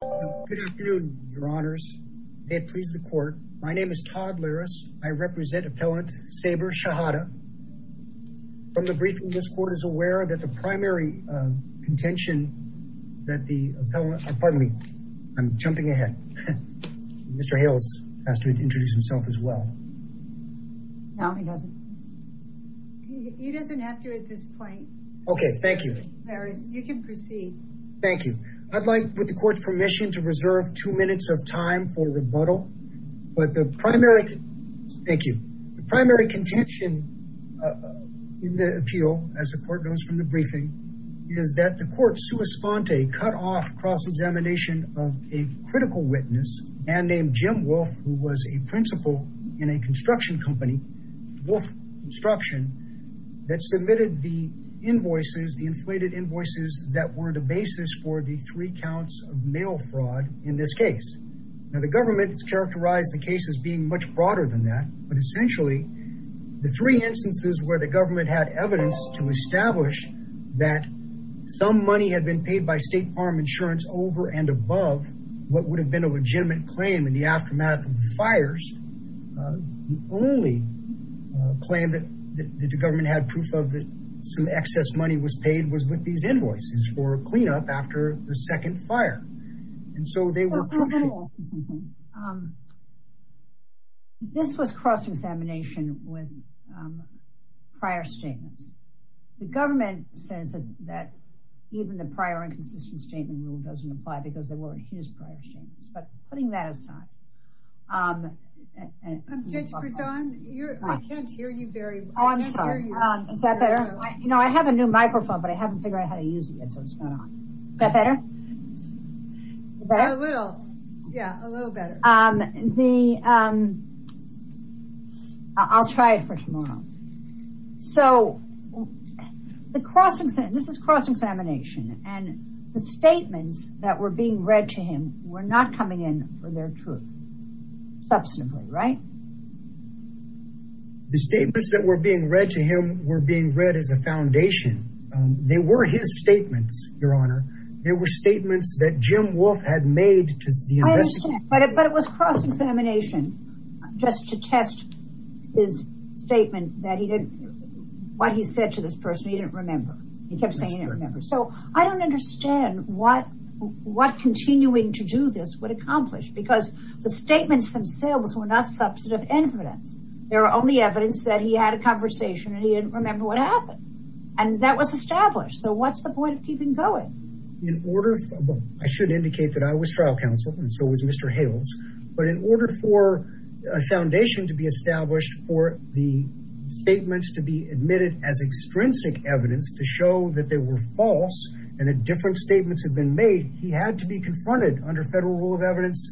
Good afternoon, your honors. May it please the court. My name is Todd Larris. I represent Appellant Saber Shehadeh. From the briefing, this court is aware that the primary contention that the appellant, pardon me, I'm jumping ahead. Mr. Hales has to introduce himself as well. No, he doesn't. He doesn't have to at this point. Okay, thank you. Larris, you can proceed. Thank you. I'd like, with the court's permission, to reserve two minutes of time for rebuttal. But the primary, thank you, the primary contention in the appeal, as the court knows from the briefing, is that the court, sua sponte, cut off cross-examination of a critical witness, a man named Jim Wolf, who was a principal in a construction company, Wolf Construction, that submitted the invoices, the inflated invoices that were the basis for the three counts of mail fraud in this case. Now, the government has characterized the case as being much broader than that. But essentially, the three instances where the government had evidence to establish that some money had been paid by State Farm Insurance over and above what would have been a legitimate claim in the aftermath of the fires, the only claim that the government had proof of that some excess money was paid was with these invoices for cleanup after the second fire. And so they were... This was cross-examination with prior statements. The government says that even the prior inconsistent statement rule doesn't apply because they weren't his prior statements. But putting that aside. Judge Brisson, I can't hear you very well. Oh, I'm sorry. Is that better? You know, I have a new microphone, but I haven't figured out how to use it yet, so it's not on. Is that better? A little, yeah, a little better. I'll try it for tomorrow. So, the cross-examination, and the statements that were being read to him were not coming in for their truth, substantively, right? The statements that were being read to him were being read as a foundation. They were his statements, Your Honor. They were statements that Jim Wolfe had made to the investigators. I understand, but it was cross-examination just to test his statement that he didn't... What he said to this person, he didn't remember. He kept saying, well, I don't understand what continuing to do this would accomplish, because the statements themselves were not substantive evidence. They were only evidence that he had a conversation and he didn't remember what happened. And that was established. So, what's the point of keeping going? In order... I should indicate that I was trial counsel, and so was Mr. Hales, but in order for a foundation to be established for the statements to be admitted as extrinsic evidence, to show that they were false, and that different statements had been made, he had to be confronted under Federal Rule of Evidence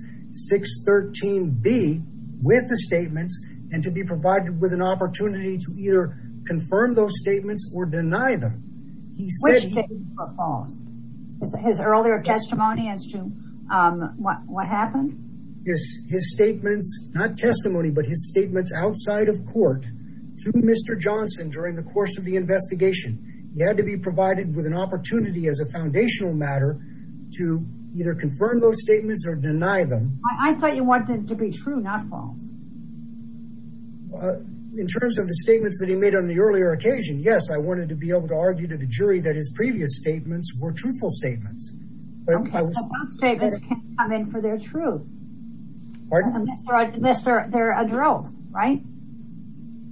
613B with the statements, and to be provided with an opportunity to either confirm those statements or deny them. He said... Which statements were false? His earlier testimony as to what happened? His statements, not testimony, but his statements outside of court, through Mr. Johnson during the course of the investigation. He had to be provided with an opportunity as a foundational matter to either confirm those statements or deny them. I thought you wanted it to be true, not false. In terms of the statements that he made on the earlier occasion, yes, I wanted to be able to argue to the jury that his previous statements were truthful statements. But I was... Okay, but those statements can't come in for their truth. Pardon? Unless they're a growth, right?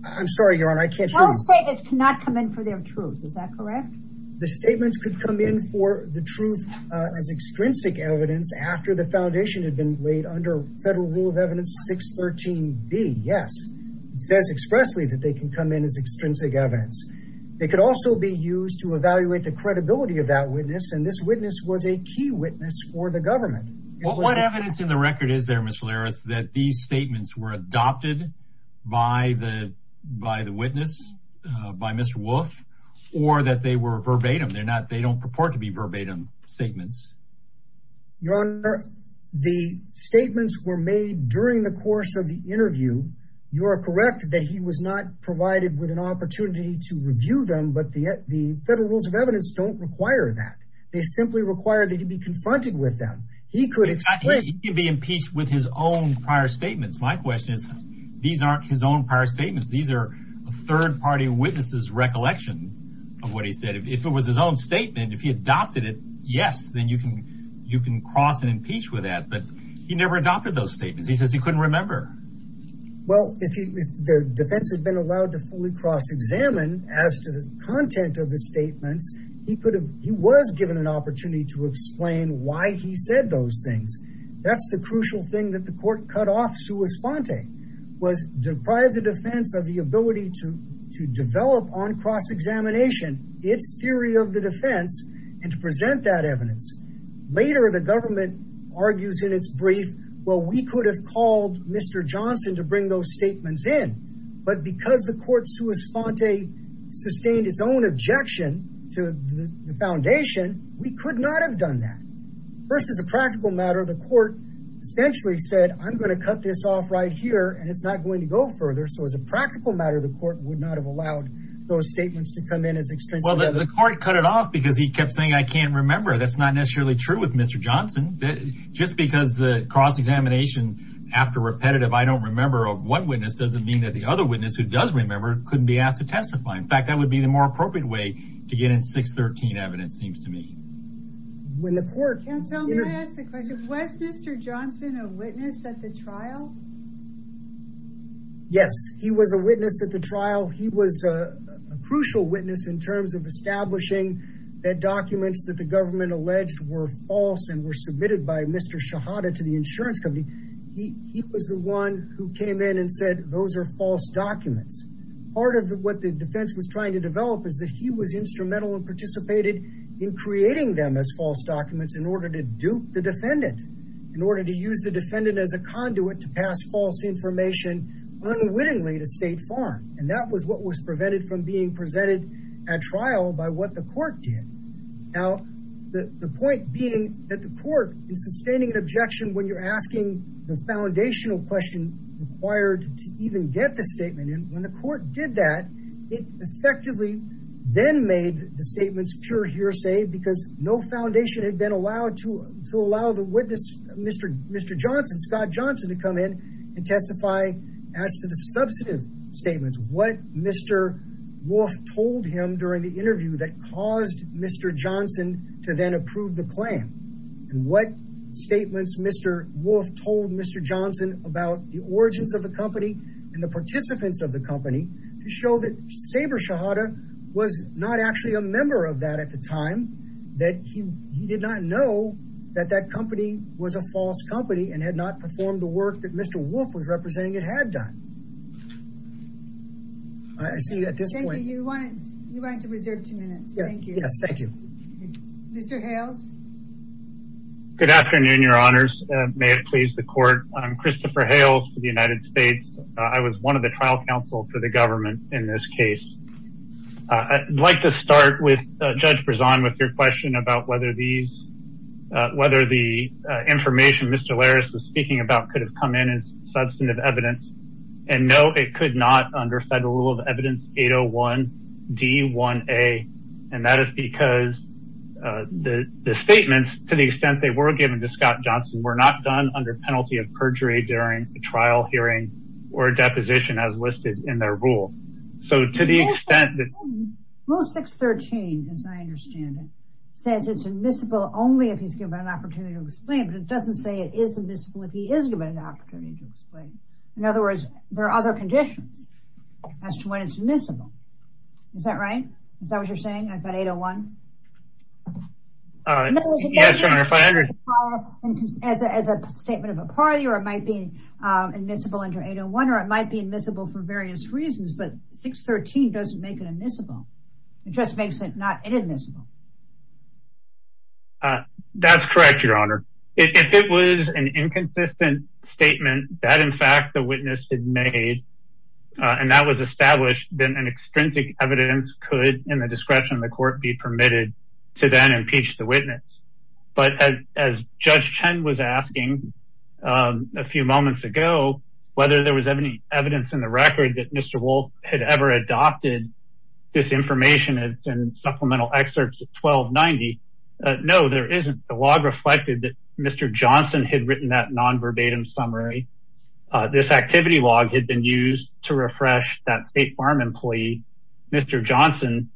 I'm sorry, Your Honor, I can't hear you. Those statements cannot come in for their truth, is that correct? The statements could come in for the truth as extrinsic evidence after the foundation had been laid under Federal Rule of Evidence 613B, yes. It says expressly that they can come in as extrinsic evidence. They could also be used to evaluate the credibility of that witness, and this witness was a key witness for the government. What evidence in the record is there, Mr. Larris, that these statements were adopted by the witness, by Mr. Wolf, or that they were verbatim? They don't purport to be verbatim statements. Your Honor, the statements were made during the course of the interview. You are correct that he was not provided with an opportunity to review them, but the Federal Rules of Evidence don't require that. They simply require that he be confronted with them. He could explain- He could be impeached with his own prior statements. My question is, these aren't his own prior statements. These are a third party witness's recollection of what he said. If it was his own statement, if he adopted it, yes, then you can cross and impeach with that, but he never adopted those statements. He says he couldn't remember. Well, if the defense had been allowed to fully cross-examine as to the content of the statements, he was given an opportunity to explain why he said those things. That's the crucial thing that the court cut off sua sponte, was deprive the defense of the ability to develop on cross-examination its theory of the defense and to present that evidence. Later, the government argues in the court sua sponte sustained its own objection to the foundation, we could not have done that. First, as a practical matter, the court essentially said, I'm going to cut this off right here, and it's not going to go further. So, as a practical matter, the court would not have allowed those statements to come in as extensively. Well, the court cut it off because he kept saying, I can't remember. That's not necessarily true with Mr. Johnson. Just because the cross-examination after repetitive, I don't remember of one witness doesn't mean that the other witness who does remember couldn't be asked to testify. In fact, that would be the more appropriate way to get in 613 evidence, seems to me. When the court canceled the question, was Mr. Johnson a witness at the trial? Yes, he was a witness at the trial. He was a crucial witness in terms of establishing that documents that the government alleged were false and were submitted by Mr. Shahada to the insurance company. He was the one who came in and said, those are false documents. Part of what the defense was trying to develop is that he was instrumental and participated in creating them as false documents in order to dupe the defendant, in order to use the defendant as a conduit to pass false information unwittingly to State Farm. And that was what was prevented from being presented at trial by what the court did. Now, the point being that the court, in sustaining an objection when you're asking the foundational question required to even get the statement, and when the court did that, it effectively then made the statements pure hearsay because no foundation had been allowed to allow the witness, Mr. Johnson, Scott Johnson, to come in and testify as to the substantive statements. What Mr. Wolfe told him during the interview that caused Mr. Johnson to then approve the claim and what statements Mr. Wolfe told Mr. Johnson about the origins of the company and the participants of the company to show that Saber Shahada was not actually a member of that at the time, that he did not know that that company was a false company and had not performed the work that Mr. Wolfe was representing it had done. I see at this point, you wanted to reserve two minutes. Thank you. Yes, thank you. Mr. Hales. Good afternoon, your honors. May it please the court. I'm Christopher Hales for the United States. I was one of the trial counsel for the government in this case. I'd like to start with Judge Brezon with your question about whether these, whether the information Mr. Laris was it could not under federal rule of evidence 801 D1A. And that is because the statements, to the extent they were given to Scott Johnson, were not done under penalty of perjury during a trial hearing or a deposition as listed in their rule. So to the extent that rule 613, as I understand it, says it's admissible only if he's given an opportunity to explain, but it doesn't say it is admissible if he is given an opportunity to explain. In other words, there are other conditions as to when it's admissible. Is that right? Is that what you're saying? I've got 801. As a statement of a party, or it might be admissible under 801, or it might be admissible for various reasons, but 613 doesn't make it admissible. It just makes it not inadmissible. That's correct, Your Honor. If it was an inconsistent statement that, in fact, the witness had made, and that was established, then an extrinsic evidence could, in the discretion of the court, be permitted to then impeach the witness. But as Judge Chen was asking a few moments ago, whether there was any evidence in the record that Mr. Wolfe had ever adopted this information and supplemental excerpts of 1290, no, there isn't. The log reflected that Mr. Johnson had written that non-verbatim summary. This activity log had been used to refresh that State Farm employee, Mr. Johnson,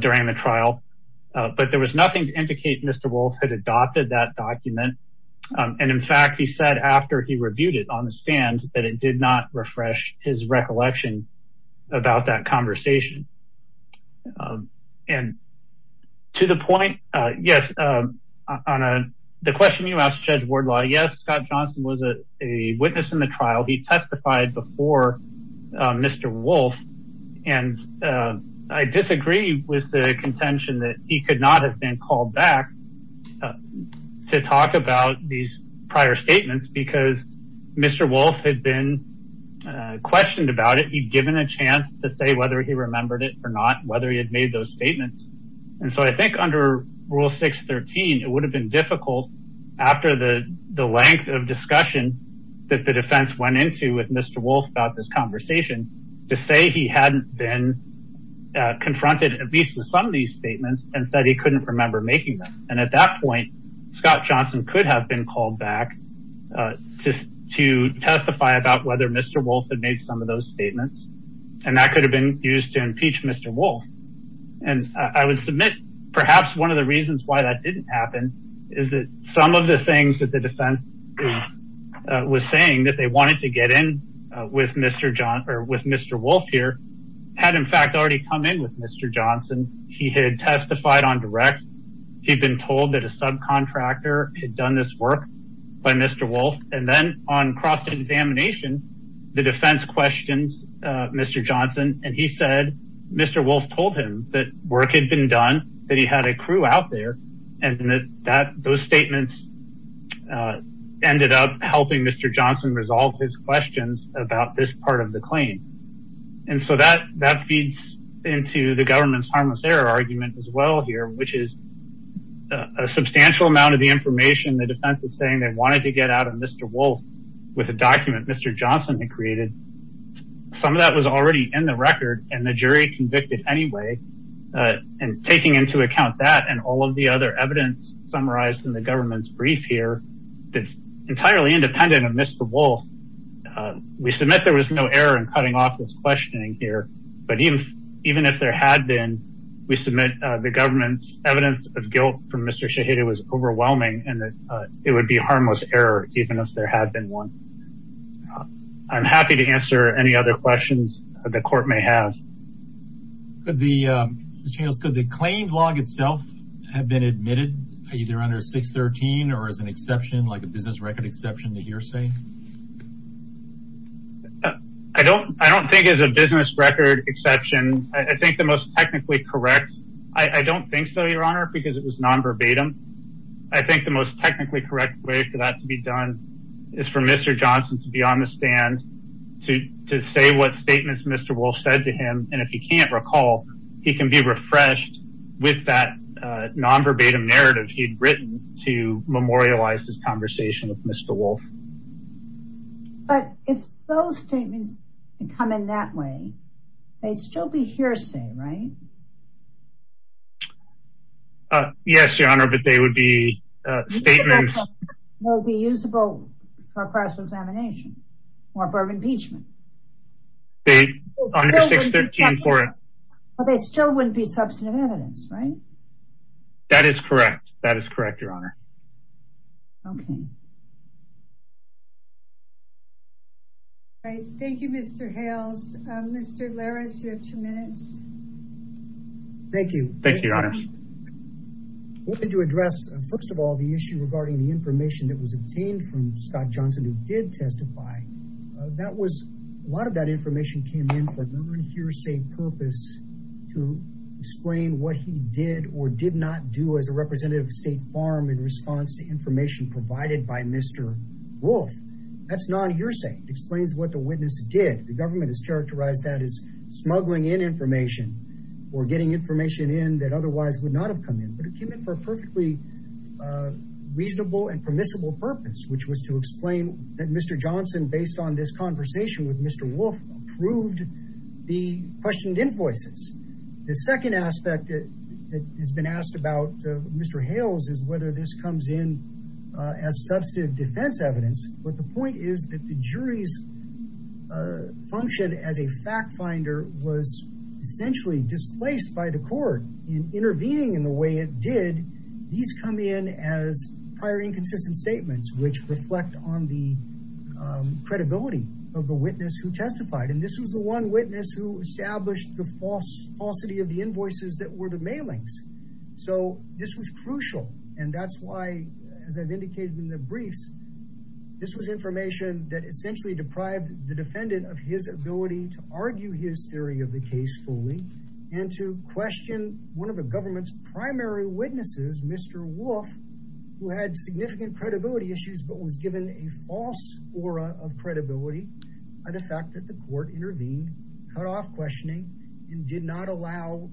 during the trial, but there was nothing to indicate Mr. Wolfe had adopted that document. And in fact, he said after he reviewed it on the stand that it did not refresh his record. To the point, yes, on the question you asked, Judge Wardlaw, yes, Scott Johnson was a witness in the trial. He testified before Mr. Wolfe, and I disagree with the contention that he could not have been called back to talk about these prior statements because Mr. Wolfe had been questioned about it. He'd given a chance to say whether he remembered it or not, whether he had those statements. And so I think under Rule 613, it would have been difficult after the length of discussion that the defense went into with Mr. Wolfe about this conversation to say he hadn't been confronted at least with some of these statements and said he couldn't remember making them. And at that point, Scott Johnson could have been called back to testify about whether Mr. Wolfe had made some of those statements, and that could have been used to impeach Mr. Wolfe. And I would submit perhaps one of the reasons why that didn't happen is that some of the things that the defense was saying that they wanted to get in with Mr. Wolfe here had in fact already come in with Mr. Johnson. He had testified on direct. He'd been told that a subcontractor had done this work by Mr. Wolfe. And then on cross-examination, the defense questions Mr. Johnson, and he said Mr. Wolfe told him that work had been done, that he had a crew out there, and that those statements ended up helping Mr. Johnson resolve his questions about this part of the claim. And so that that feeds into the government's harmless error argument as well here, which is a substantial amount of the information the defense is saying they wanted to get out of Mr. Wolfe with a document Mr. Johnson had created. Some of that was already in the record, and the jury convicted anyway. And taking into account that and all of the other evidence summarized in the government's brief here, that's entirely independent of Mr. Wolfe, we submit there was no error in cutting off this questioning here. But even if there had been, we submit the government's evidence of guilt from Mr. Shahidi was overwhelming, and that it would be harmless error even if there had been one. I'm happy to answer any other questions the court may have. Could the, Mr. Daniels, could the claim log itself have been admitted either under 613 or as an exception, like a business record exception to hearsay? I don't, I don't think it's a business record exception. I think the most technically correct, I don't think so, Your Honor, because it was non-verbatim. I think the most technically correct way for that to be done is for Mr. Johnson to be on the stand to say what statements Mr. Wolfe said to him, and if he can't recall, he can be refreshed with that non-verbatim narrative he'd written to memorialize this conversation with Mr. Wolfe. But if those statements come in that way, they'd still be hearsay, right? Yes, Your Honor, but they would be statements. They would be usable for a cross-examination or for impeachment. They, under 613 for it. But they still wouldn't be substantive evidence, right? That is correct. That is correct, Your Honor. Okay. All right. Thank you, Mr. Hales. Mr. Larris, you have two minutes. Thank you. Thank you, Your Honor. I wanted to address, first of all, the issue regarding the information that was obtained from Scott Johnson, who did testify. That was, a lot of that information came in for government hearsay purpose to explain what he did or did not do as a representative of Farm in response to information provided by Mr. Wolfe. That's non-hearsay. It explains what the witness did. The government has characterized that as smuggling in information or getting information in that otherwise would not have come in. But it came in for a perfectly reasonable and permissible purpose, which was to explain that Mr. Johnson, based on this conversation with Mr. Wolfe, approved the questioned invoices. The second aspect that has been asked about, Mr. Hales, is whether this comes in as substantive defense evidence. But the point is that the jury's function as a fact finder was essentially displaced by the court in intervening in the way it did. These come in as prior inconsistent statements, which reflect on the credibility of the witness who testified. And this was the one witness who established the falsity of the invoices that were the mailings. So this was crucial. And that's why, as I've indicated in the briefs, this was information that essentially deprived the defendant of his ability to argue his theory of the case fully and to question one of the government's primary witnesses, Mr. Wolfe, who had significant credibility issues but was given a false aura of credibility by the fact that the court intervened, cut off questioning, and did not allow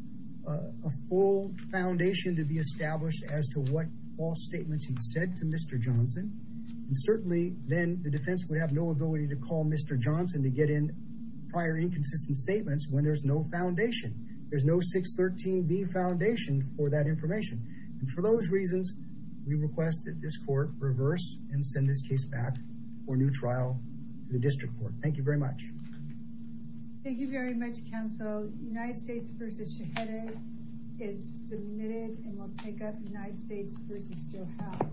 a full foundation to be established as to what false statements he'd said to Mr. Johnson. And certainly then the defense would have no ability to call Mr. Johnson to get in prior inconsistent statements when there's no foundation. There's no 613B foundation for that information. And for those reasons, we request that this court reverse and send this case back for a new trial to the district court. Thank you very much. Thank you very much, counsel. United States v. Scheherazade is submitted and will take up United States v. Joe Howe.